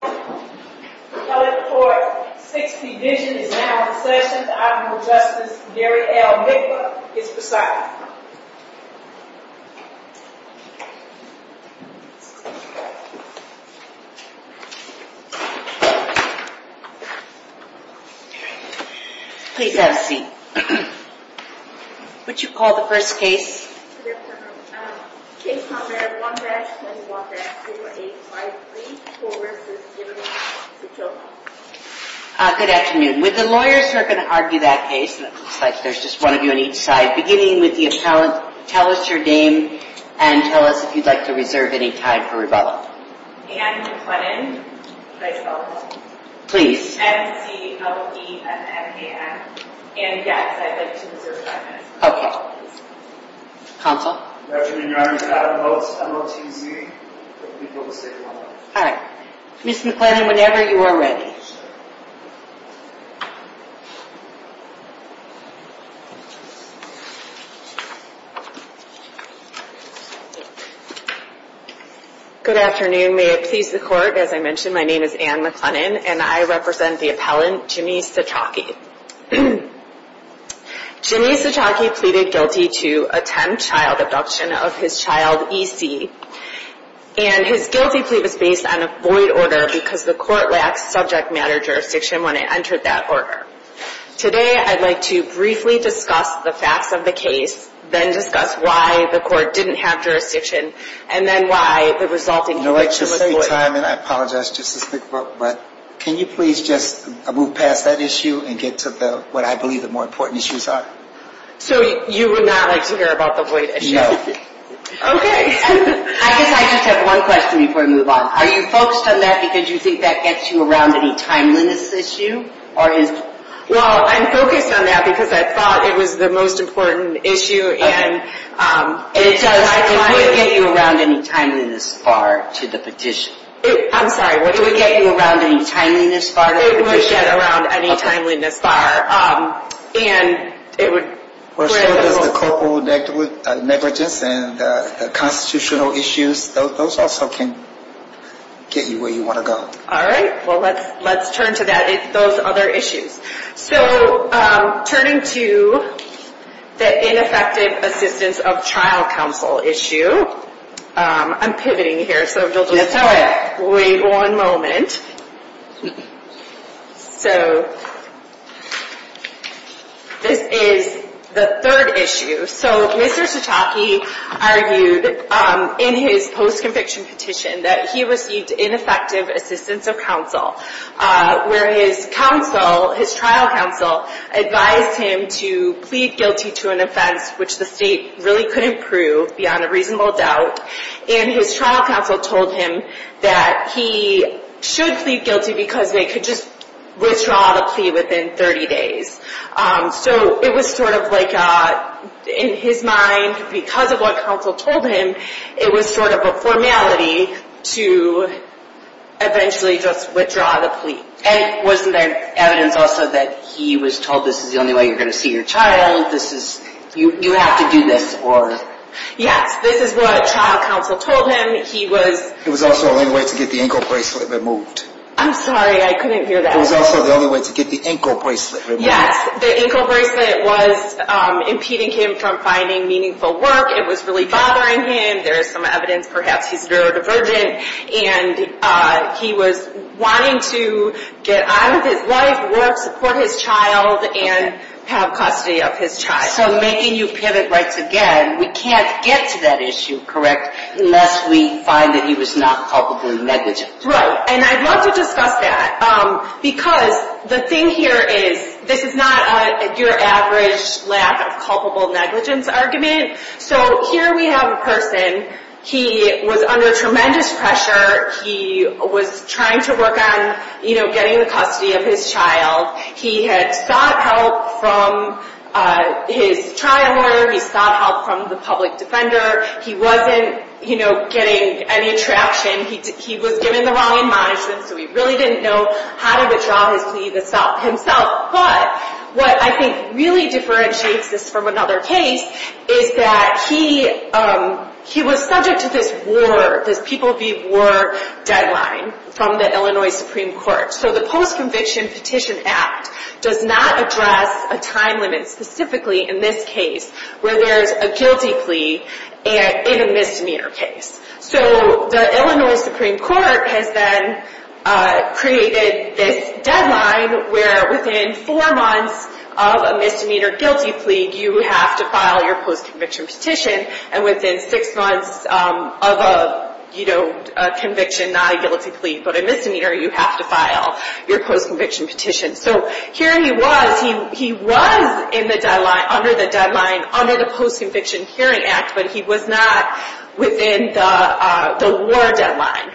The Appellate Court's 6th Division is now in session. The Honorable Justice Gary L. Mikla is presiding. Please have a seat. What did you call the first case? Case number 1-218-53. Good afternoon. With the lawyers who are going to argue that case, it looks like there's just one of you on each side. Beginning with the appellate, tell us your name and tell us if you'd like to reserve any time for rebuttal. Anne McClennan. Can I spell that? Please. N-C-L-E-M-N-A-N. Anne, yes, I'd like to reserve five minutes. Okay. Counsel? Good afternoon, Your Honor. I'd like to vote M-O-T-Z. All right. Ms. McClennan, whenever you are ready. Good afternoon. May it please the Court, as I mentioned, my name is Anne McClennan and I represent the appellant, Jimmy Cichoki. Jimmy Cichoki pleaded guilty to attempt child abduction of his child, E.C., and his guilty plea was based on a void order because the court lacked subject matter jurisdiction when it entered that order. Today, I'd like to briefly discuss the facts of the case, then discuss why the court didn't have jurisdiction, and then why the resulting conviction was void. I apologize, but can you please just move past that issue and get to what I believe the more important issues are? So you would not like to hear about the void issue? No. Okay. I guess I just have one question before I move on. Are you focused on that because you think that gets you around any timeliness issue? Well, I'm focused on that because I thought it was the most important issue, and it does. It would get you around any timeliness far to the petition. I'm sorry, what? It would get you around any timeliness far to the petition. It would get around any timeliness far. Okay. And it would... As far as the corporal negligence and the constitutional issues, those also can get you where you want to go. All right. Well, let's turn to those other issues. So, turning to the ineffective assistance of trial counsel issue, I'm pivoting here, so you'll just wait one moment. So, this is the third issue. So, Mr. Sataki argued in his post-conviction petition that he received ineffective assistance of counsel, where his trial counsel advised him to plead guilty to an offense which the state really couldn't prove beyond a reasonable doubt, and his trial counsel told him that he should plead guilty because they could just withdraw the plea within 30 days. So, it was sort of like, in his mind, because of what counsel told him, it was sort of a formality to eventually just withdraw the plea. And wasn't there evidence also that he was told, this is the only way you're going to see your child, you have to do this, or... Yes, this is what trial counsel told him. He was... It was also the only way to get the ankle bracelet removed. I'm sorry, I couldn't hear that. It was also the only way to get the ankle bracelet removed. Yes, the ankle bracelet was impeding him from finding meaningful work. It was really bothering him. There is some evidence perhaps he's neurodivergent, and he was wanting to get on with his life, work, support his child, and have custody of his child. So, making you pivot rights again, we can't get to that issue, correct, unless we find that he was not culpably negligent. Right, and I'd love to discuss that, because the thing here is, this is not your average lack of culpable negligence argument. So, here we have a person, he was under tremendous pressure, he was trying to work on getting the custody of his child. He had sought help from his trial lawyer, he sought help from the public defender, he wasn't getting any traction. He was given the wrong admonishment, so he really didn't know how to withdraw his plea himself. But, what I think really differentiates this from another case, is that he was subject to this war, this People v. War deadline from the Illinois Supreme Court. So, the Post-Conviction Petition Act does not address a time limit, specifically in this case, where there is a guilty plea in a misdemeanor case. So, the Illinois Supreme Court has then created this deadline where within four months of a misdemeanor guilty plea, you have to file your post-conviction petition. And within six months of a conviction, not a guilty plea, but a misdemeanor, you have to file your post-conviction petition. So, here he was, he was in the deadline, under the deadline, under the Post-Conviction Hearing Act, but he was not within the war deadline.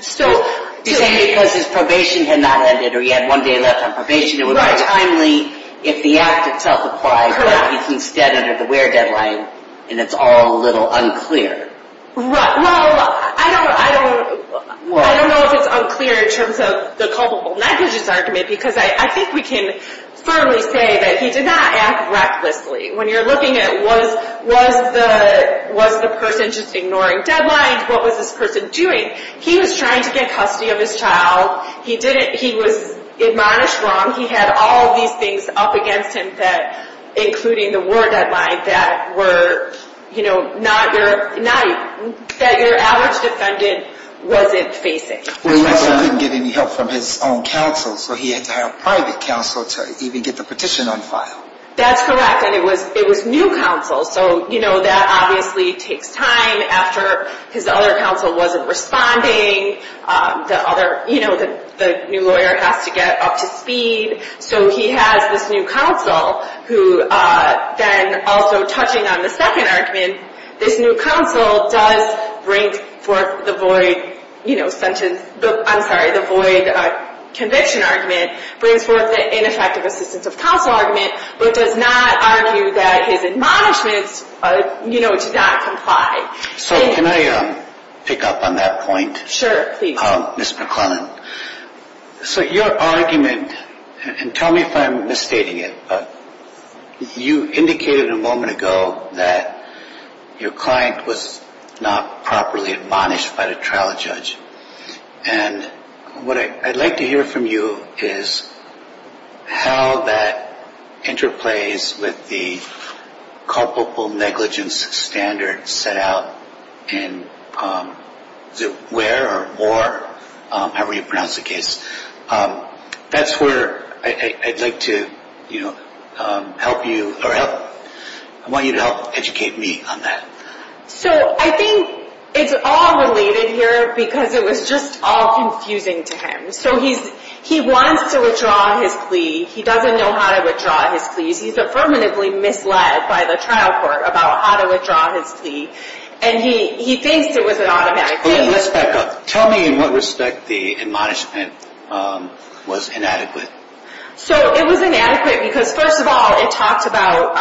You're saying because his probation had not ended, or he had one day left on probation, it would be timely if the act itself applied, but now he's instead under the war deadline, and it's all a little unclear. Well, I don't know if it's unclear in terms of the culpable negligence argument, because I think we can firmly say that he did not act recklessly. When you're looking at was the person just ignoring deadlines, what was this person doing? He was trying to get custody of his child, he was admonished wrong, he had all these things up against him, including the war deadline, that your average defendant wasn't facing. Well, he also didn't get any help from his own counsel, so he had to hire private counsel to even get the petition on file. That's correct, and it was new counsel, so that obviously takes time after his other counsel wasn't responding, the new lawyer has to get up to speed. So he has this new counsel, who then also touching on the second argument, this new counsel does bring forth the void conviction argument, brings forth the ineffective assistance of counsel argument, but does not argue that his admonishments do not comply. So can I pick up on that point? Sure, please. Ms. McClellan, so your argument, and tell me if I'm misstating it, but you indicated a moment ago that your client was not properly admonished by the trial judge. And what I'd like to hear from you is how that interplays with the culpable negligence standard set out in the war, however you pronounce the case. That's where I'd like to help you, or I want you to help educate me on that. So I think it's all related here because it was just all confusing to him. So he wants to withdraw his plea, he doesn't know how to withdraw his pleas, he's affirmatively misled by the trial court about how to withdraw his plea, and he thinks it was an automatic plea. Okay, let's back up. Tell me in what respect the admonishment was inadequate. So it was inadequate because, first of all, it talked about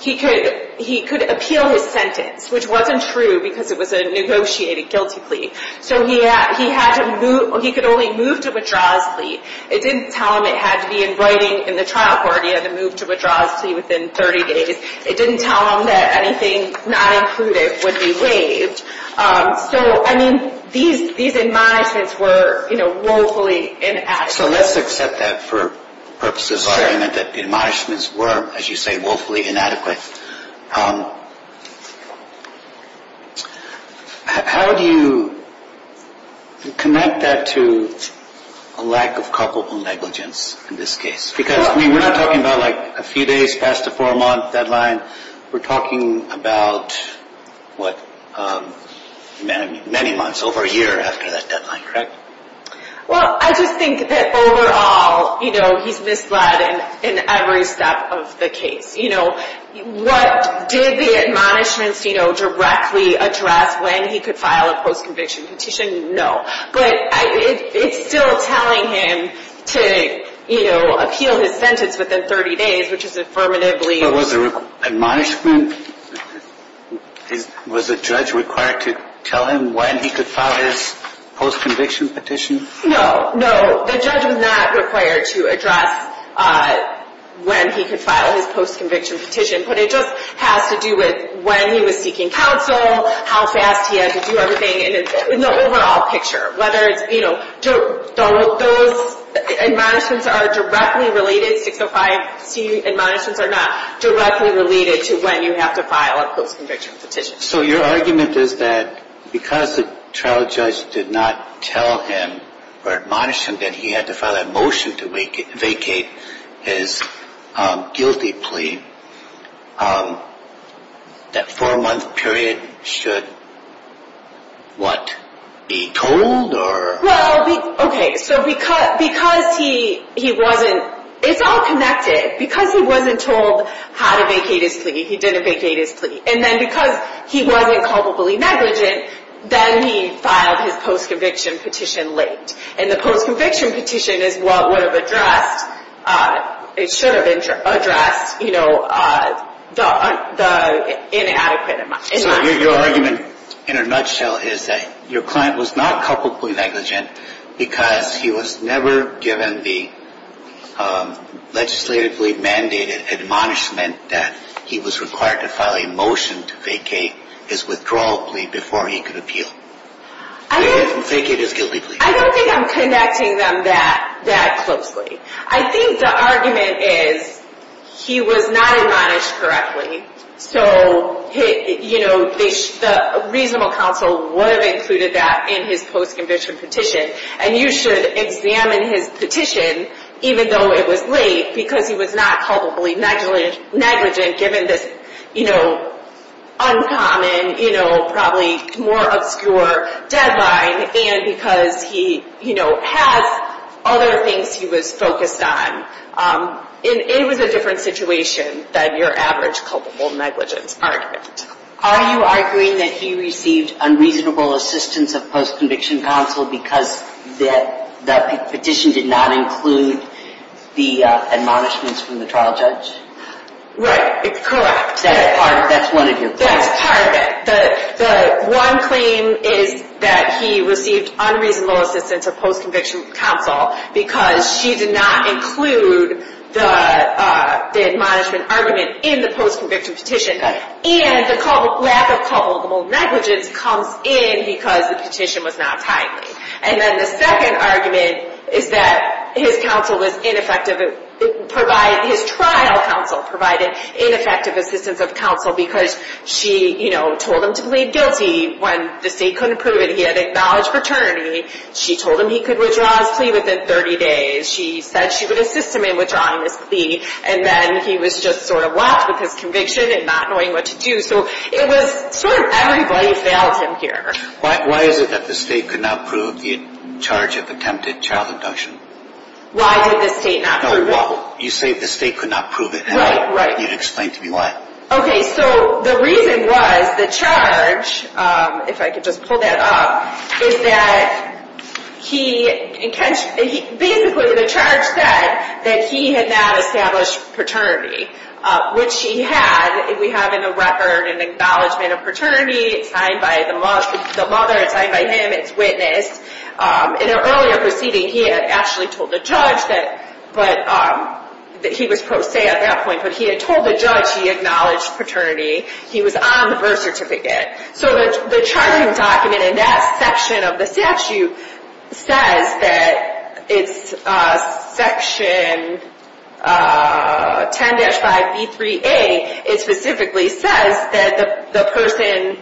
he could appeal his sentence, which wasn't true because it was a negotiated guilty plea. So he had to move, he could only move to withdraw his plea. It didn't tell him it had to be in writing in the trial court, he had to move to withdraw his plea within 30 days. It didn't tell him that anything not included would be waived. So, I mean, these admonishments were woefully inaccurate. So let's accept that for purposes of argument, that the admonishments were, as you say, woefully inadequate. How do you connect that to a lack of culpable negligence in this case? Because we're not talking about a few days past the four-month deadline, we're talking about, what, many months, over a year after that deadline, correct? Well, I just think that overall, you know, he's misled in every step of the case. You know, what did the admonishments, you know, directly address when he could file a post-conviction petition? No. But it's still telling him to, you know, appeal his sentence within 30 days, which is affirmatively... The admonishment, was the judge required to tell him when he could file his post-conviction petition? No, no. The judge was not required to address when he could file his post-conviction petition. But it just has to do with when he was seeking counsel, how fast he had to do everything, and the overall picture. Whether it's, you know, those admonishments are directly related, 605C admonishments or not, directly related to when you have to file a post-conviction petition. So your argument is that because the trial judge did not tell him, or admonish him, that he had to file a motion to vacate his guilty plea, that four-month period should, what, be told, or... Well, okay, so because he wasn't... It's all connected. Because he wasn't told how to vacate his plea, he didn't vacate his plea. And then because he wasn't culpably negligent, then he filed his post-conviction petition late. And the post-conviction petition is what would have addressed, it should have addressed, you know, the inadequate... So your argument, in a nutshell, is that your client was not culpably negligent because he was never given the legislatively mandated admonishment that he was required to file a motion to vacate his withdrawal plea before he could appeal. I don't think I'm connecting them that closely. I think the argument is he was not admonished correctly. So, you know, the reasonable counsel would have included that in his post-conviction petition. And you should examine his petition, even though it was late, because he was not culpably negligent given this, you know, uncommon, you know, probably more obscure deadline, and because he, you know, has other things he was focused on. It was a different situation than your average culpable negligence argument. Are you arguing that he received unreasonable assistance of post-conviction counsel because the petition did not include the admonishments from the trial judge? Right. Correct. That's part of your claim. That's part of it. The one claim is that he received unreasonable assistance of post-conviction counsel because she did not include the admonishment argument in the post-conviction petition. And the lack of culpable negligence comes in because the petition was not timely. And then the second argument is that his counsel was ineffective. His trial counsel provided ineffective assistance of counsel because she, you know, told him to plead guilty when the state couldn't prove it. He had acknowledged paternity. She told him he could withdraw his plea within 30 days. She said she would assist him in withdrawing his plea, and then he was just sort of left with his conviction and not knowing what to do. So it was sort of everybody failed him here. Why is it that the state could not prove the charge of attempted child abduction? Why did the state not prove it? No, you say the state could not prove it. Right, right. You need to explain to me why. Okay, so the reason was the charge, if I could just pull that up, is that basically the charge said that he had not established paternity, which he had. We have in the record an acknowledgment of paternity. It's signed by the mother. It's signed by him. It's witnessed. In an earlier proceeding, he had actually told the judge that he was pro se at that point, but he had told the judge he acknowledged paternity. He was on the birth certificate. So the charging document in that section of the statute says that it's section 10-5B3A. It specifically says that the person,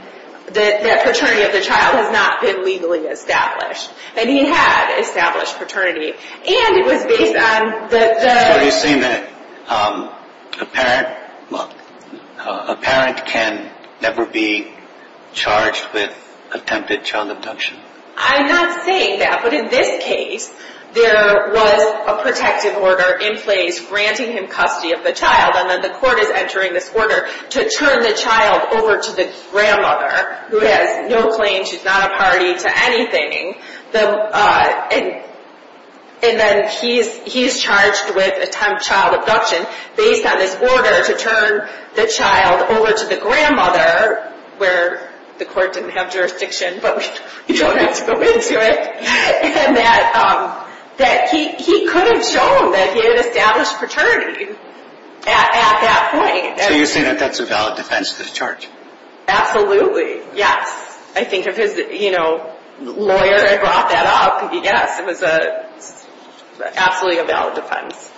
that paternity of the child has not been legally established, and he had established paternity. And it was based on the... So are you saying that a parent can never be charged with attempted child abduction? I'm not saying that, but in this case, there was a protective order in place granting him custody of the child, and then the court is entering this order to turn the child over to the grandmother, who has no claim, she's not a party to anything. And then he's charged with attempted child abduction based on this order to turn the child over to the grandmother, where the court didn't have jurisdiction, but we don't have to go into it. And that he couldn't show them that he had established paternity at that point. So you're saying that that's a valid defense of this charge? Absolutely, yes. I think if his lawyer had brought that up, yes, it was absolutely a valid defense.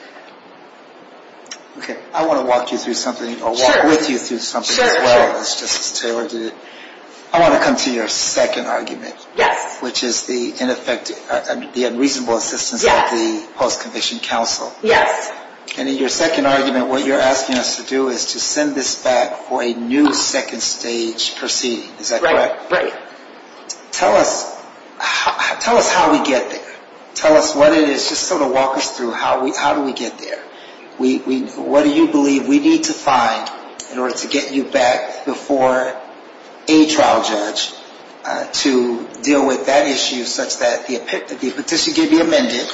Okay, I want to walk you through something, or walk with you through something as well, just as Taylor did. I want to come to your second argument, which is the unreasonable assistance of the Post-Conviction Counsel. Yes. And in your second argument, what you're asking us to do is to send this back for a new second stage proceeding. Is that correct? Right. Tell us how we get there. Tell us what it is, just sort of walk us through, how do we get there? What do you believe we need to find in order to get you back before a trial judge to deal with that issue, such that the petition can be amended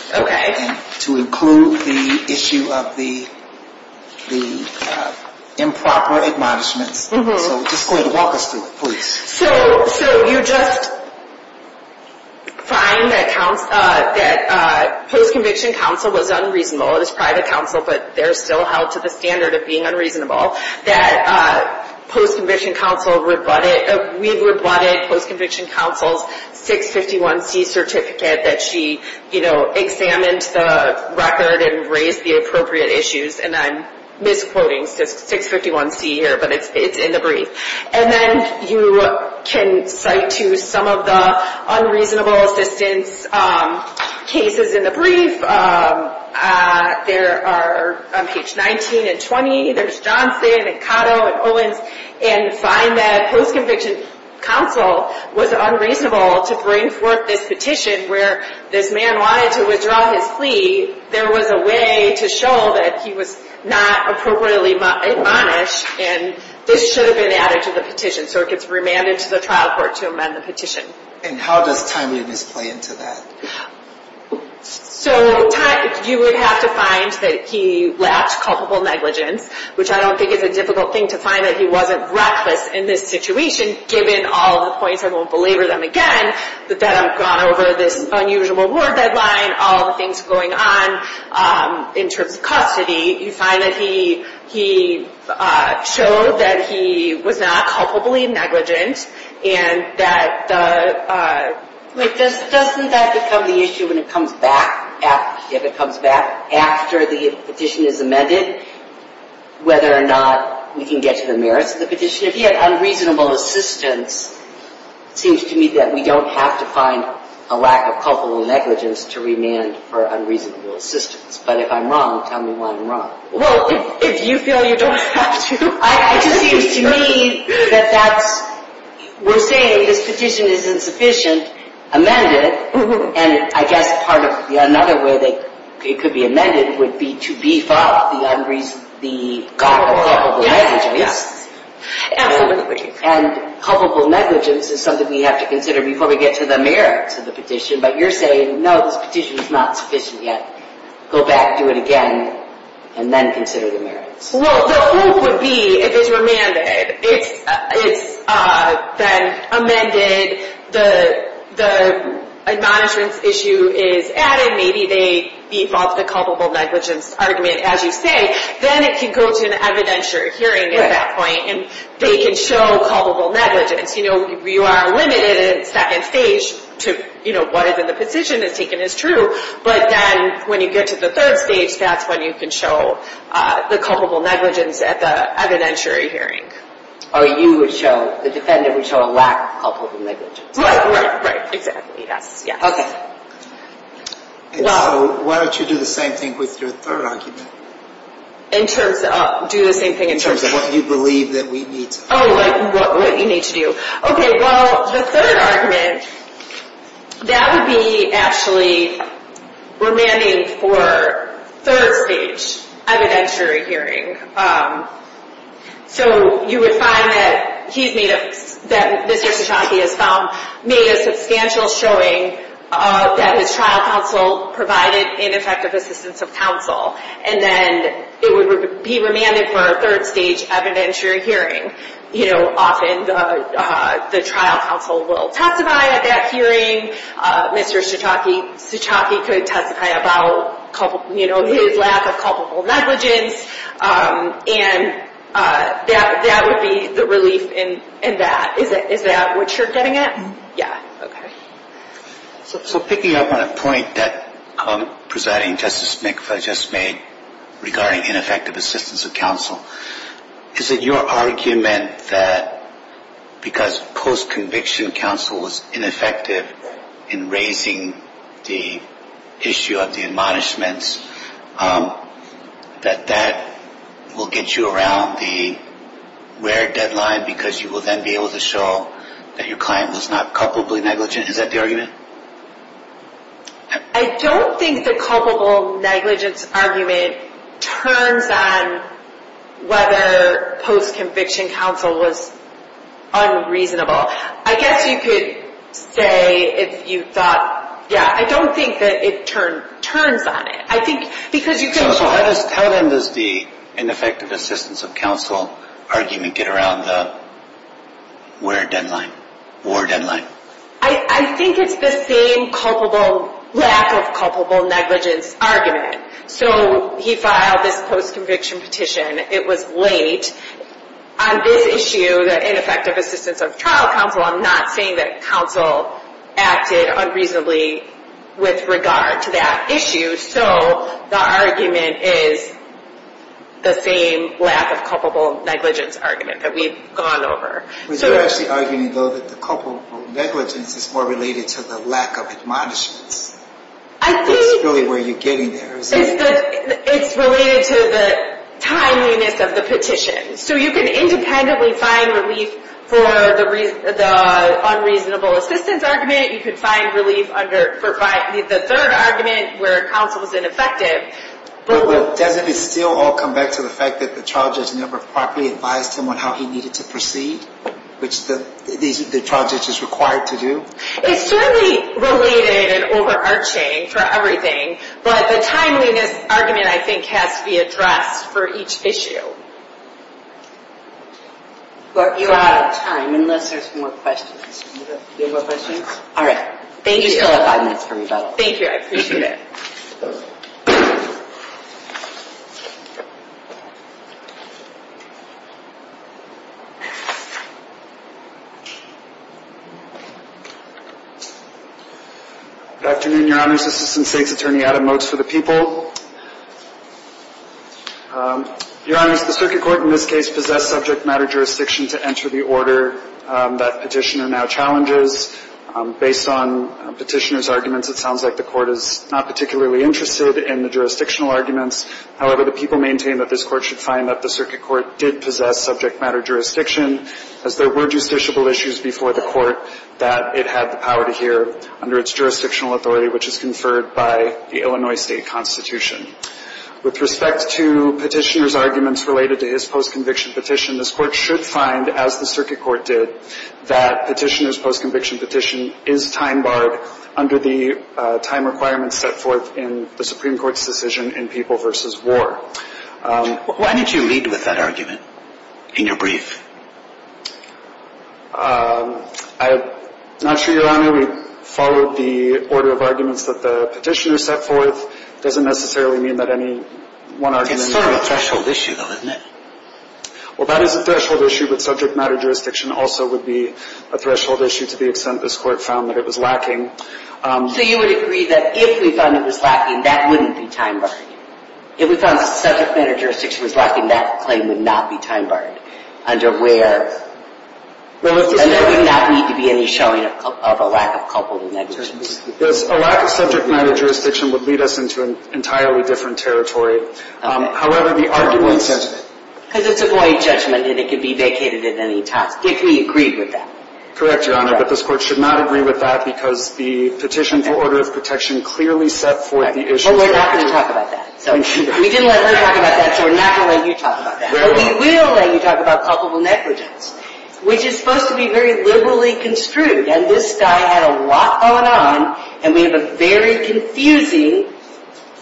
to include the issue of the improper admonishments? So just walk us through it, please. So you just find that Post-Conviction Counsel was unreasonable, it was private counsel, but they're still held to the standard of being unreasonable. That Post-Conviction Counsel, we've rebutted Post-Conviction Counsel's 651C certificate that she examined the record and raised the appropriate issues, and I'm misquoting 651C here, but it's in the brief. And then you can cite to some of the unreasonable assistance cases in the brief. There are, on page 19 and 20, there's Johnson and Cotto and Owens, and find that Post-Conviction Counsel was unreasonable to bring forth this petition where this man wanted to withdraw his plea. There was a way to show that he was not appropriately admonished, and this should have been added to the petition, so it gets remanded to the trial court to amend the petition. And how does timeliness play into that? So you would have to find that he lacked culpable negligence, which I don't think is a difficult thing to find that he wasn't reckless in this situation, given all the points, I won't belabor them again, that I've gone over this unusual war deadline, all the things going on in terms of custody. You find that he showed that he was not culpably negligent, and that the... Wait, doesn't that become the issue when it comes back? If it comes back after the petition is amended, whether or not we can get to the merits of the petition? If he had unreasonable assistance, it seems to me that we don't have to find a lack of culpable negligence to remand for unreasonable assistance. But if I'm wrong, tell me why I'm wrong. Well, if you feel you don't have to. It just seems to me that that's... We're saying this petition isn't sufficient, amend it. And I guess another way it could be amended would be to beef up the culpable negligence. Absolutely. And culpable negligence is something we have to consider before we get to the merits of the petition. But you're saying, no, this petition is not sufficient yet. Go back, do it again, and then consider the merits. Well, the hope would be if it's remanded, it's then amended, the admonishments issue is added, maybe they beef up the culpable negligence argument, as you say, then it can go to an evidentiary hearing at that point, and they can show culpable negligence. You are limited in second stage to what is in the petition is taken as true, but then when you get to the third stage, that's when you can show the culpable negligence at the evidentiary hearing. Or you would show, the defendant would show a lack of culpable negligence. Right, right, right, exactly, yes, yes. Okay. And so why don't you do the same thing with your third argument? Do the same thing in terms of... In terms of what you believe that we need to do. Oh, like what you need to do. Okay, well, the third argument, that would be actually remanding for third stage evidentiary hearing. So you would find that he's made a... that Mr. Cichocki has made a substantial showing that his trial counsel provided ineffective assistance of counsel, and then it would be remanded for a third stage evidentiary hearing. You know, often the trial counsel will testify at that hearing. Mr. Cichocki could testify about, you know, his lack of culpable negligence, and that would be the relief in that. Is that what you're getting at? Yeah. Okay. So picking up on a point that Presiding Justice Mikva just made regarding ineffective assistance of counsel, is it your argument that because post-conviction counsel was ineffective in raising the issue of the admonishments, that that will get you around the where deadline because you will then be able to show that your client was not culpably negligent? Is that the argument? I don't think the culpable negligence argument turns on whether post-conviction counsel was unreasonable. I guess you could say if you thought, yeah, I don't think that it turns on it. I think because you can show... So how then does the ineffective assistance of counsel argument get around the where deadline, war deadline? I think it's the same lack of culpable negligence argument. So he filed this post-conviction petition. It was late. On this issue, the ineffective assistance of trial counsel, I'm not saying that counsel acted unreasonably with regard to that issue. So the argument is the same lack of culpable negligence argument that we've gone over. But you're actually arguing, though, that the culpable negligence is more related to the lack of admonishments. I think... That's really where you're getting there, isn't it? It's related to the timeliness of the petition. So you can independently find relief for the unreasonable assistance argument. You can find relief under the third argument where counsel was ineffective. But doesn't it still all come back to the fact that the trial judge never properly advised him on how he needed to proceed, which the trial judge is required to do? It's certainly related and overarching for everything. But the timeliness argument, I think, has to be addressed for each issue. You're out of time, unless there's more questions. Do you have more questions? All right. Thank you. You still have five minutes for rebuttal. Thank you. I appreciate it. Good afternoon, Your Honors. Assistant State's Attorney Adam Motes for the people. Your Honors, the circuit court in this case possessed subject matter jurisdiction to enter the order that petitioner now challenges. Based on petitioner's arguments, it sounds like the court is not particularly interested in the jurisdictional arguments. However, the people maintain that this court should find that the circuit court did possess subject matter jurisdiction, as there were justiciable issues before the court that it had the power to hear under its jurisdictional authority, which is conferred by the Illinois state constitution. With respect to petitioner's arguments related to his post-conviction petition, this court should find, as the circuit court did, that petitioner's post-conviction petition is time-barred under the time requirements set forth in the Supreme Court's decision in People v. War. Why did you lead with that argument in your brief? I'm not sure, Your Honor. We followed the order of arguments that the petitioner set forth. It doesn't necessarily mean that any one argument in the brief... It's sort of a threshold issue, though, isn't it? Well, that is a threshold issue, but subject matter jurisdiction also would be a threshold issue to the extent this court found that it was lacking. So you would agree that if we found it was lacking, that wouldn't be time-barred? If we found subject matter jurisdiction was lacking, that claim would not be time-barred under where... And there would not need to be any showing of a lack of culpable negligence? A lack of subject matter jurisdiction would lead us into an entirely different territory. However, the arguments... Because it's a void judgment, and it could be vacated at any time, if we agreed with that. Correct, Your Honor, but this court should not agree with that because the petition for order of protection clearly set forth the issues... Well, we're not going to talk about that. We didn't let her talk about that, so we're not going to let you talk about that. But we will let you talk about culpable negligence, which is supposed to be very liberally construed. And this guy had a lot going on, and we have a very confusing...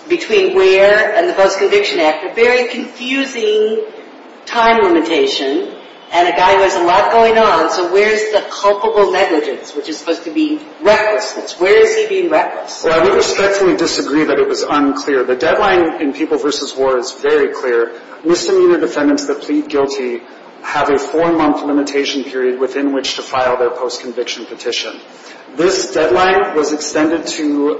Between where and the Post-Conviction Act, a very confusing time limitation, and a guy who has a lot going on. So where's the culpable negligence, which is supposed to be recklessness? Where is he being reckless? Well, I would respectfully disagree that it was unclear. The deadline in People v. War is very clear. Misdemeanor defendants that plead guilty have a four-month limitation period within which to file their post-conviction petition. This deadline was extended to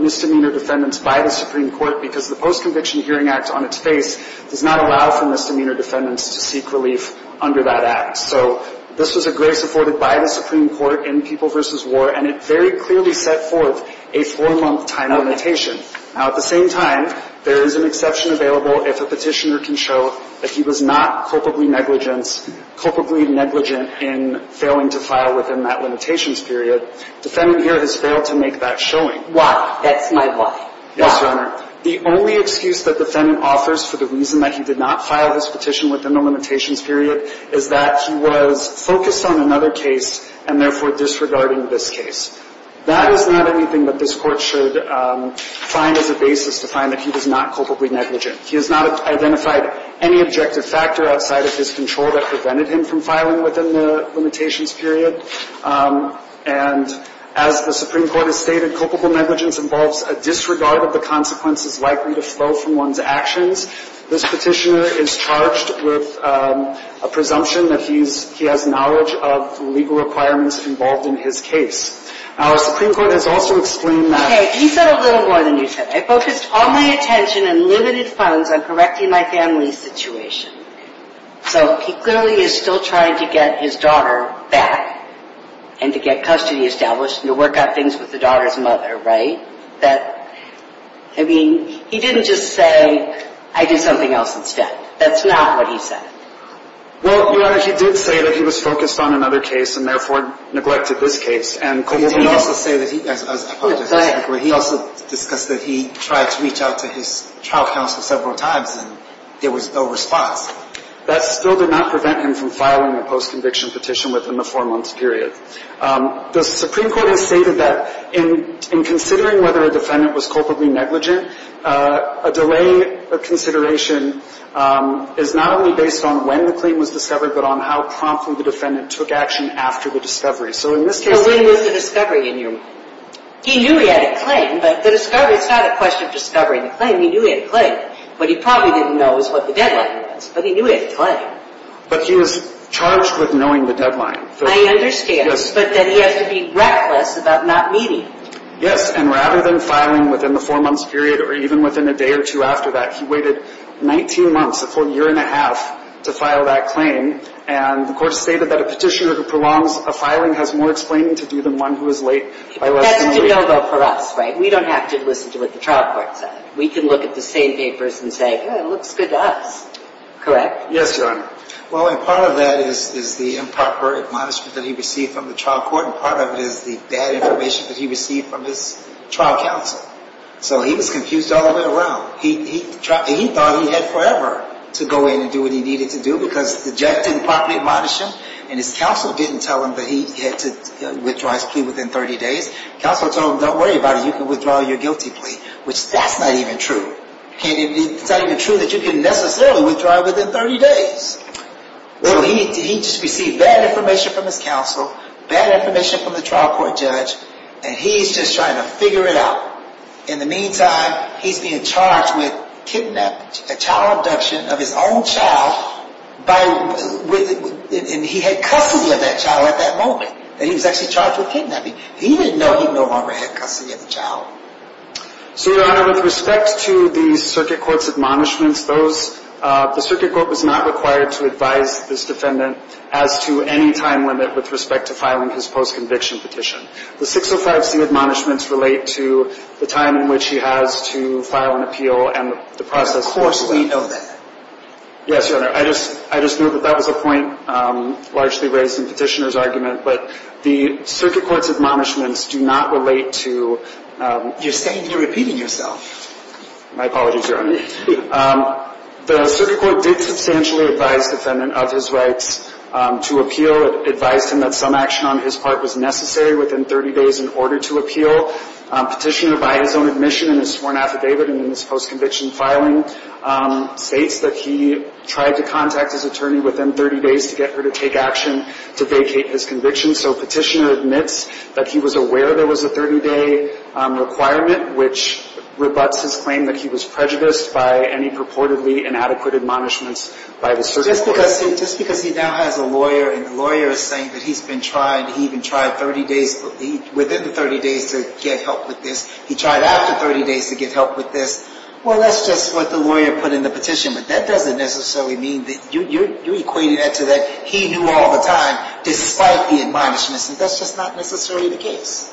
misdemeanor defendants by the Supreme Court because the Post-Conviction Hearing Act on its face does not allow for misdemeanor defendants to seek relief under that act. So this was a grace afforded by the Supreme Court in People v. War, and it very clearly set forth a four-month time limitation. Now, at the same time, there is an exception available if a petitioner can show that he was not culpably negligent in failing to file within that limitations period. The defendant here has failed to make that showing. Why? That's my line. Why? Yes, Your Honor. The only excuse that the defendant offers for the reason that he did not file his petition within the limitations period is that he was focused on another case and therefore disregarding this case. That is not anything that this Court should find as a basis to find that he was not culpably negligent. He has not identified any objective factor outside of his control that prevented him from filing within the limitations period. And as the Supreme Court has stated, culpable negligence involves a disregard of the consequences likely to flow from one's actions. This petitioner is charged with a presumption that he has knowledge of the legal requirements involved in his case. Our Supreme Court has also explained that... Okay, he said a little more than you said. I focused all my attention and limited funds on correcting my family's situation. So he clearly is still trying to get his daughter back and to get custody established and to work out things with the daughter's mother, right? That, I mean, he didn't just say, I did something else instead. That's not what he said. Well, Your Honor, he did say that he was focused on another case and therefore neglected this case. He also discussed that he tried to reach out to his trial counsel several times and there was no response. That still did not prevent him from filing a post-conviction petition within the four-month period. The Supreme Court has stated that in considering whether a defendant was culpably negligent, a delay of consideration is not only based on when the claim was discovered but on how promptly the defendant took action after the discovery. So in this case... So when was the discovery in your mind? He knew he had a claim, but the discovery is not a question of discovering the claim. He knew he had a claim. What he probably didn't know is what the deadline was, but he knew he had a claim. But he was charged with knowing the deadline. I understand, but then he has to be reckless about not meeting. Yes, and rather than filing within the four-month period or even within a day or two after that, he waited 19 months, a full year and a half, to file that claim. And the court stated that a petitioner who prolongs a filing has more explaining to do than one who is late by less than a week. That's to know, though, for us, right? We don't have to listen to what the trial court said. We can look at the same papers and say, yeah, it looks good to us. Correct? Yes, Your Honor. Well, and part of that is the improper admonishment that he received from the trial court, and part of it is the bad information that he received from his trial counsel. So he was confused all the way around. He thought he had forever to go in and do what he needed to do because the judge didn't properly admonish him, and his counsel didn't tell him that he had to withdraw his plea within 30 days. Counsel told him, don't worry about it. You can withdraw your guilty plea, which that's not even true. It's not even true that you can necessarily withdraw it within 30 days. So he just received bad information from his counsel, bad information from the trial court judge, and he's just trying to figure it out. In the meantime, he's being charged with kidnapping, child abduction of his own child, and he had custody of that child at that moment, and he was actually charged with kidnapping. He didn't know he no longer had custody of the child. So, Your Honor, with respect to the circuit court's admonishments, the circuit court was not required to advise this defendant as to any time limit with respect to filing his post-conviction petition. The 605C admonishments relate to the time in which he has to file an appeal and the process. Of course we know that. Yes, Your Honor. I just knew that that was a point largely raised in Petitioner's argument, but the circuit court's admonishments do not relate to... You're saying you're repeating yourself. My apologies, Your Honor. The circuit court did substantially advise the defendant of his rights to appeal. It advised him that some action on his part was necessary within 30 days in order to appeal. Petitioner, by his own admission in his sworn affidavit and in his post-conviction filing, states that he tried to contact his attorney within 30 days to get her to take action to vacate his conviction. So Petitioner admits that he was aware there was a 30-day requirement, which rebuts his claim that he was prejudiced by any purportedly inadequate admonishments by the circuit court. Just because he now has a lawyer and the lawyer is saying that he's been trying, he even tried 30 days, within the 30 days to get help with this, he tried after 30 days to get help with this, well, that's just what the lawyer put in the petition. But that doesn't necessarily mean that you're equating that to that he knew all the time, despite the admonishments, and that's just not necessarily the case.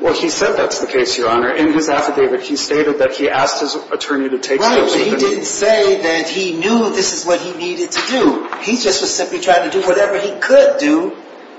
Well, he said that's the case, Your Honor. In his affidavit, he stated that he asked his attorney to take steps... So he didn't say that he knew this is what he needed to do. He just was simply trying to do whatever he could do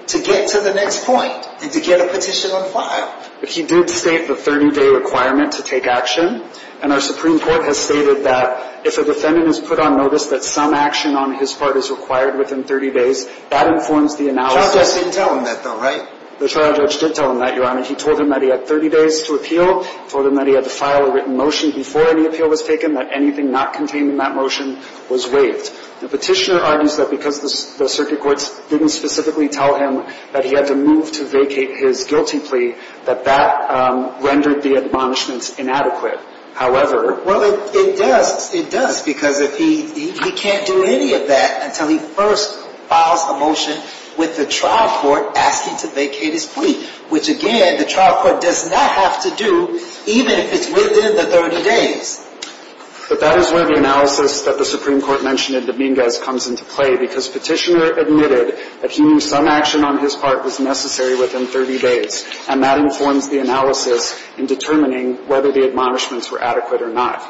to get to the next point and to get a petition on file. But he did state the 30-day requirement to take action, and our Supreme Court has stated that if a defendant is put on notice that some action on his part is required within 30 days, that informs the analysis... The trial judge didn't tell him that, though, right? The trial judge did tell him that, Your Honor. He told him that he had 30 days to appeal, told him that he had to file a written motion before any appeal was taken, that anything not contained in that motion was waived. The petitioner argues that because the circuit courts didn't specifically tell him that he had to move to vacate his guilty plea, that that rendered the admonishments inadequate. However... Well, it does. It does, because he can't do any of that until he first files a motion with the trial court asking to vacate his plea, which, again, the trial court does not have to do, even if it's within the 30 days. But that is where the analysis that the Supreme Court mentioned in Dominguez comes into play, because Petitioner admitted that he knew some action on his part was necessary within 30 days, and that informs the analysis in determining whether the admonishments were adequate or not.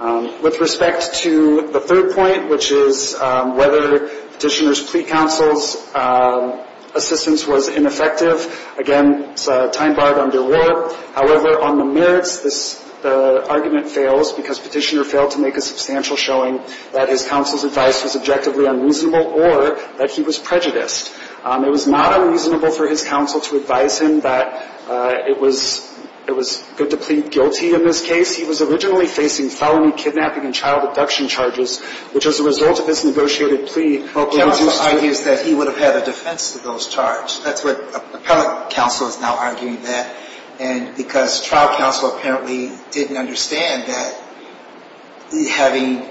With respect to the third point, which is whether Petitioner's plea counsel's assistance was ineffective, again, it's a time barred under war. However, on the merits, the argument fails because Petitioner failed to make a substantial showing that his counsel's advice was objectively unreasonable or that he was prejudiced. It was not unreasonable for his counsel to advise him that it was good to plead guilty in this case. He was originally facing felony kidnapping and child abduction charges, which, as a result of this negotiated plea... Well, counsel argues that he would have had a defense to those charges. That's what appellate counsel is now arguing there. And because trial counsel apparently didn't understand that having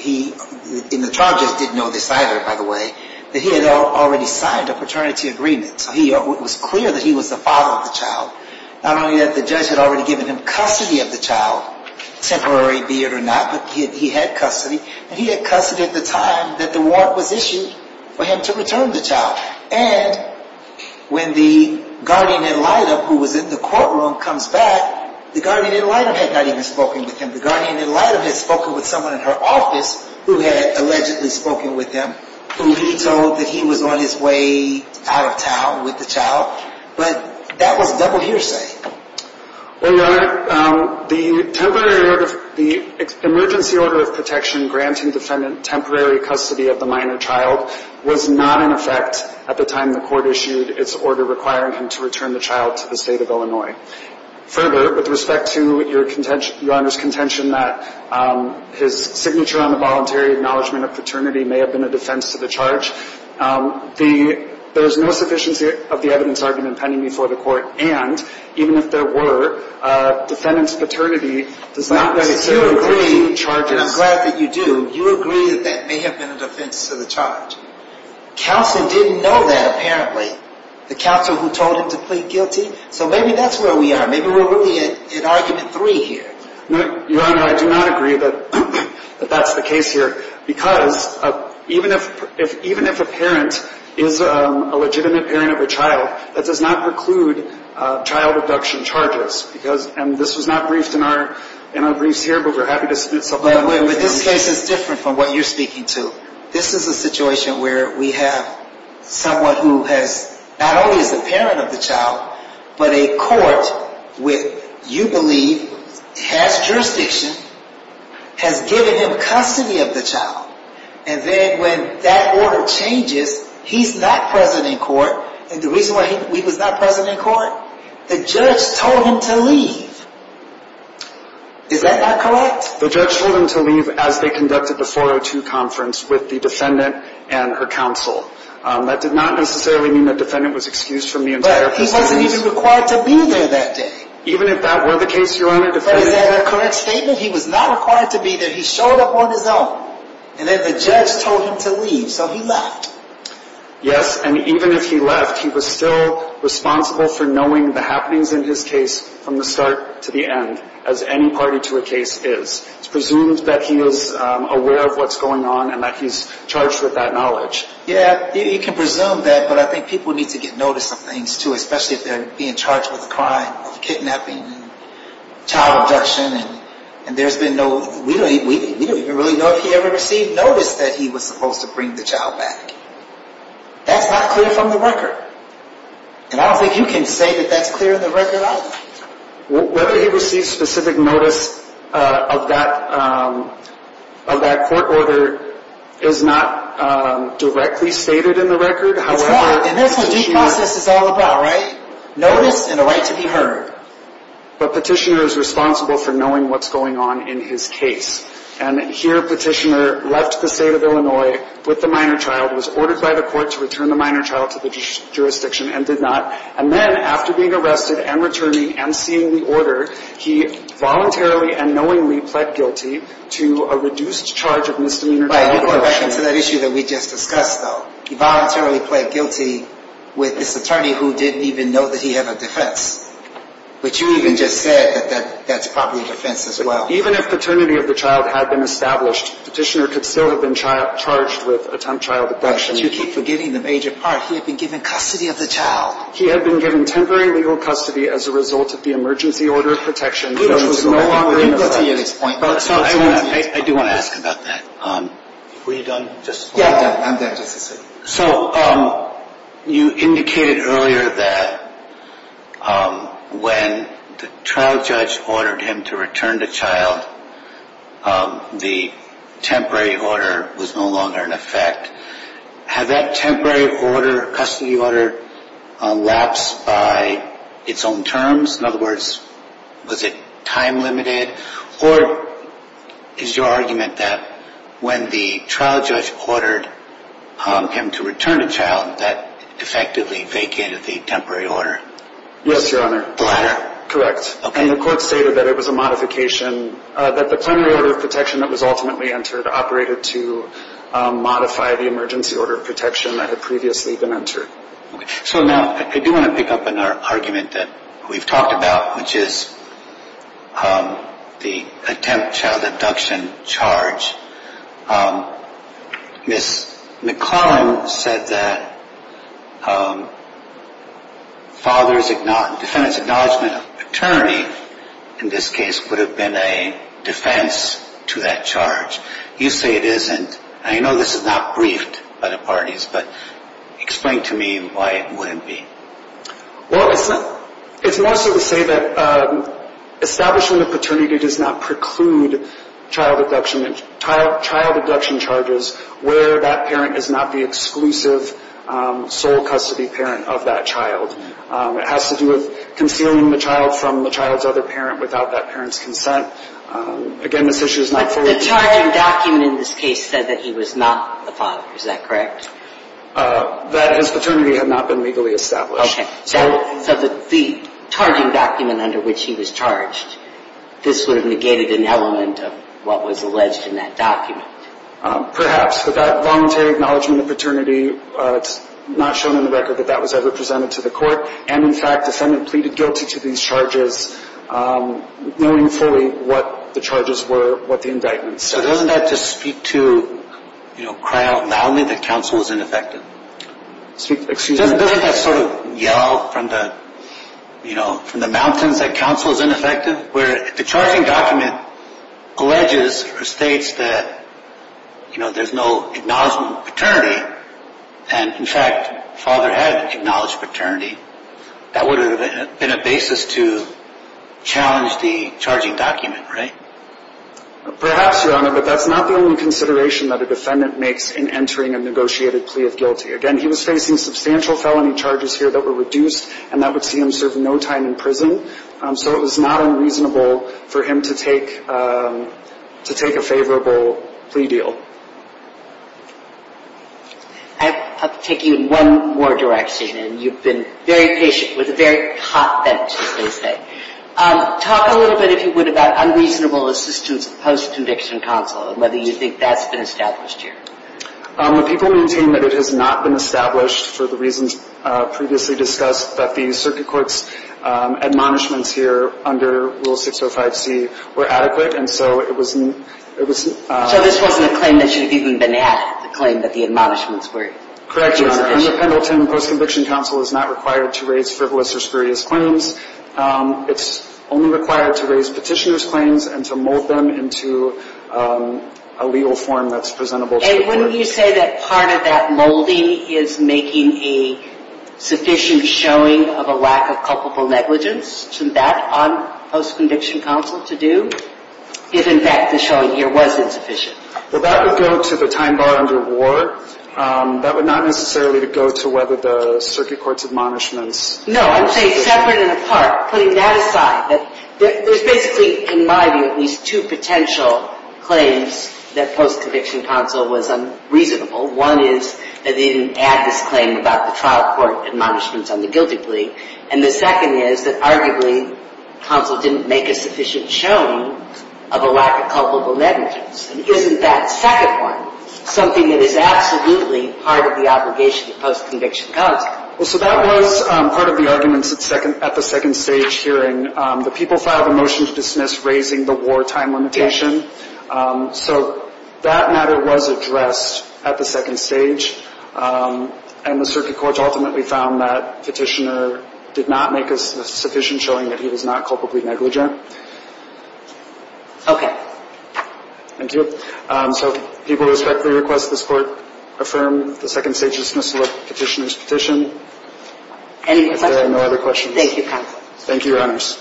he, and the charges didn't know this either, by the way, that he had already signed a paternity agreement, so it was clear that he was the father of the child. Not only that the judge had already given him custody of the child, temporary be it or not, but he had custody, and he had custody at the time that the warrant was issued for him to return the child. And when the guardian ad litem who was in the courtroom comes back, the guardian ad litem had not even spoken with him. The guardian ad litem had spoken with someone in her office who had allegedly spoken with him, who he told that he was on his way out of town with the child, but that was double hearsay. Well, Your Honor, the temporary order, the emergency order of protection granting defendant temporary custody of the minor child was not in effect at the time the court issued its order requiring him to return the child to the state of Illinois. Further, with respect to Your Honor's contention that his signature on the voluntary acknowledgement of paternity may have been a defense to the charge, there is no sufficiency of the evidence argument pending before the court, and even if there were, defendant's paternity does not necessarily include charges. I'm glad that you do. You agree that that may have been a defense to the charge. Counsel didn't know that apparently. The counsel who told him to plead guilty? So maybe that's where we are. Maybe we're really at argument three here. Your Honor, I do not agree that that's the case here, because even if a parent is a legitimate parent of a child, that does not preclude child abduction charges, because, and this was not briefed in our briefs here, but we're happy to submit something. But this case is different from what you're speaking to. This is a situation where we have someone who has, not only is the parent of the child, but a court with, you believe, has jurisdiction, has given him custody of the child, and then when that order changes, he's not present in court, and the reason why he was not present in court? The judge told him to leave. Is that not correct? The judge told him to leave as they conducted the 402 conference with the defendant and her counsel. That did not necessarily mean the defendant was excused from the entire proceedings. But he wasn't even required to be there that day. Even if that were the case, Your Honor, the defendant... But is that a correct statement? He was not required to be there. He showed up on his own. And then the judge told him to leave, so he left. Yes, and even if he left, he was still responsible for knowing the happenings in his case from the start to the end, as any party to a case is. It's presumed that he was aware of what's going on and that he's charged with that knowledge. Yeah, you can presume that, but I think people need to get notice of things, too, especially if they're being charged with a crime of kidnapping, child abduction, and there's been no... We don't even really know if he ever received notice that he was supposed to bring the child back. That's not clear from the record, and I don't think you can say that that's clear in the record either. Whether he received specific notice of that court order is not directly stated in the record. It's not, and that's what due process is all about, right? Notice and a right to be heard. But Petitioner is responsible for knowing what's going on in his case, and here Petitioner left the state of Illinois with the minor child, was ordered by the court to return the minor child to the jurisdiction and did not, and then after being arrested and returning and seeing the order, he voluntarily and knowingly pled guilty to a reduced charge of misdemeanor child abduction. Right, you go back into that issue that we just discussed, though. He voluntarily pled guilty with this attorney who didn't even know that he had a defense, which you even just said that that's probably a defense as well. Even if paternity of the child had been established, Petitioner could still have been charged with attempt child abduction. You keep forgetting the major part. He had been given custody of the child. He had been given temporary legal custody as a result of the emergency order of protection, which was no longer in effect. I do want to ask about that. Were you done? Yeah, I'm done. So you indicated earlier that when the trial judge ordered him to return the child, the temporary order was no longer in effect. Had that temporary order, custody order, lapsed by its own terms? In other words, was it time limited? Or is your argument that when the trial judge ordered him to return a child, that effectively vacated the temporary order? Yes, Your Honor. The latter? Correct. And the court stated that it was a modification, that the temporary order of protection that was ultimately entered operated to modify the emergency order of protection that had previously been entered. So now I do want to pick up on our argument that we've talked about, which is the attempt child abduction charge. Ms. McClellan said that defendant's acknowledgement of paternity, in this case, would have been a defense to that charge. You say it isn't. I know this is not briefed by the parties, but explain to me why it wouldn't be. Well, it's more so to say that establishment of paternity does not preclude child abduction charges where that parent is not the exclusive sole custody parent of that child. It has to do with concealing the child from the child's other parent without that parent's consent. Again, this issue is not fully- But the charging document in this case said that he was not the father. Is that correct? That his paternity had not been legally established. Okay. So the charging document under which he was charged, this would have negated an element of what was alleged in that document. Perhaps. But that voluntary acknowledgement of paternity, it's not shown in the record that that was ever presented to the court. And, in fact, the defendant pleaded guilty to these charges, knowing fully what the charges were, what the indictment says. So doesn't that just speak to, you know, cry out loudly that counsel is ineffective? Excuse me? Doesn't that sort of yell from the, you know, from the mountains that counsel is ineffective? Where the charging document alleges or states that, you know, there's no acknowledgement of paternity, and, in fact, the father had acknowledged paternity, that would have been a basis to challenge the charging document, right? Perhaps, Your Honor, but that's not the only consideration that a defendant makes in entering a negotiated plea of guilty. Again, he was facing substantial felony charges here that were reduced, and that would see him serve no time in prison. So it was not unreasonable for him to take a favorable plea deal. I have to take you in one more direction, and you've been very patient with a very hot bench, as they say. Talk a little bit, if you would, about unreasonable assistance of post-conviction counsel and whether you think that's been established here. The people maintain that it has not been established for the reasons previously discussed, that the circuit court's admonishments here under Rule 605C were adequate, and so it was not. So this wasn't a claim that should have even been added, the claim that the admonishments were insufficient. Correct, Your Honor. Under Pendleton, post-conviction counsel is not required to raise frivolous or spurious claims. It's only required to raise petitioner's claims and to mold them into a legal form that's presentable to the court. And wouldn't you say that part of that molding is making a sufficient showing of a lack of culpable negligence? Shouldn't that, on post-conviction counsel, to do, if, in fact, the showing here was insufficient? Well, that would go to the time bar under war. That would not necessarily go to whether the circuit court's admonishments were sufficient. No, I'm saying separate and apart, putting that aside. There's basically, in my view, at least two potential claims that post-conviction counsel was unreasonable. One is that they didn't add this claim about the trial court admonishments on the guilty plea, and the second is that arguably counsel didn't make a sufficient showing of a lack of culpable negligence. And isn't that second one something that is absolutely part of the obligation of post-conviction counsel? Well, so that was part of the arguments at the second stage hearing. The people filed a motion to dismiss raising the war time limitation. So that matter was addressed at the second stage. And the circuit court ultimately found that petitioner did not make a sufficient showing that he was not culpably negligent. Okay. Thank you. So people respectfully request this court affirm the second stage dismissal of petitioner's petition. Any questions? If there are no other questions. Thank you, counsel. Thank you, Your Honors.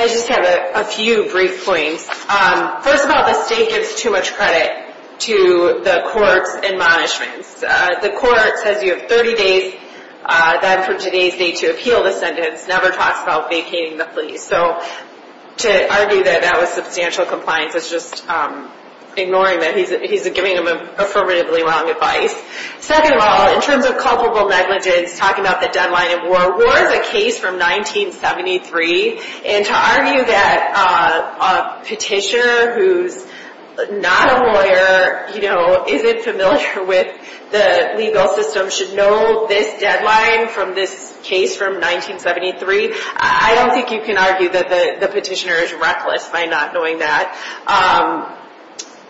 I just have a few brief points. First of all, the state gives too much credit to the court's admonishments. The court says you have 30 days then for today's date to appeal the sentence. Never talks about vacating the plea. So to argue that that was substantial compliance is just ignoring that. He's giving them affirmatively wrong advice. Second of all, in terms of culpable negligence, talking about the deadline of war, war is a case from 1973. And to argue that a petitioner who's not a lawyer, you know, isn't familiar with the legal system should know this deadline from this case from 1973, I don't think you can argue that the petitioner is reckless by not knowing that.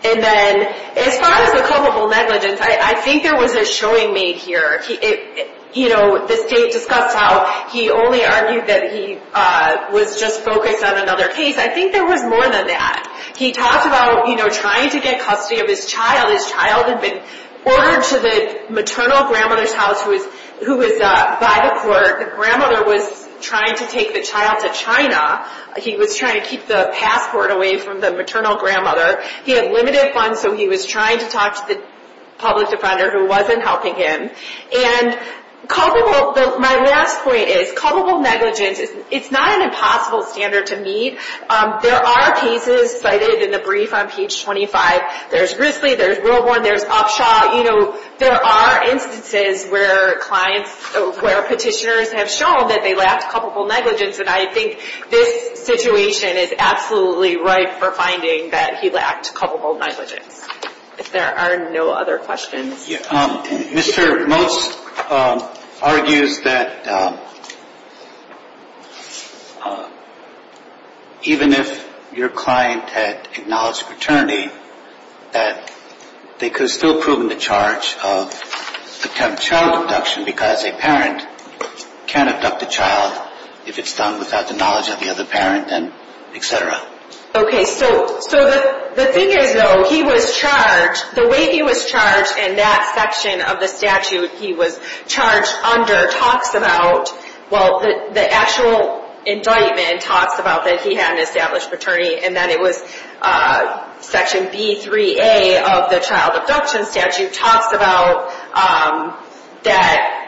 And then as far as the culpable negligence, I think there was a showing made here. You know, the state discussed how he only argued that he was just focused on another case. I think there was more than that. He talked about, you know, trying to get custody of his child. His child had been ordered to the maternal grandmother's house who was by the court. The grandmother was trying to take the child to China. He was trying to keep the passport away from the maternal grandmother. He had limited funds, so he was trying to talk to the public defender who wasn't helping him. And culpable, my last point is culpable negligence, it's not an impossible standard to meet. There are cases cited in the brief on page 25. There's Risley. There's Wilborn. There's Upshaw. You know, there are instances where clients, where petitioners have shown that they lacked culpable negligence. And I think this situation is absolutely right for finding that he lacked culpable negligence. If there are no other questions. Mr. Motz argues that even if your client had acknowledged paternity, that they could have still proven the charge of child abduction because a parent can abduct a child if it's done without the knowledge of the other parent and et cetera. Okay, so the thing is though, he was charged, the way he was charged and that section of the statute he was charged under talks about, well the actual indictment talks about that he had an established paternity and that it was section B3A of the child abduction statute talks about that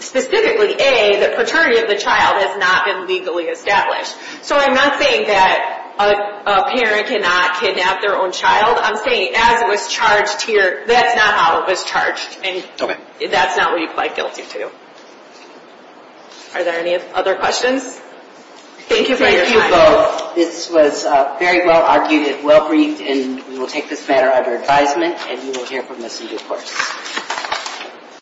specifically A, the paternity of the child has not been legally established. So I'm not saying that a parent cannot kidnap their own child. I'm saying as it was charged here, that's not how it was charged and that's not what you apply guilty to. Are there any other questions? Thank you for your time. Thank you both. This was very well argued and well briefed and we will take this matter under advisement and you will hear from us in due course.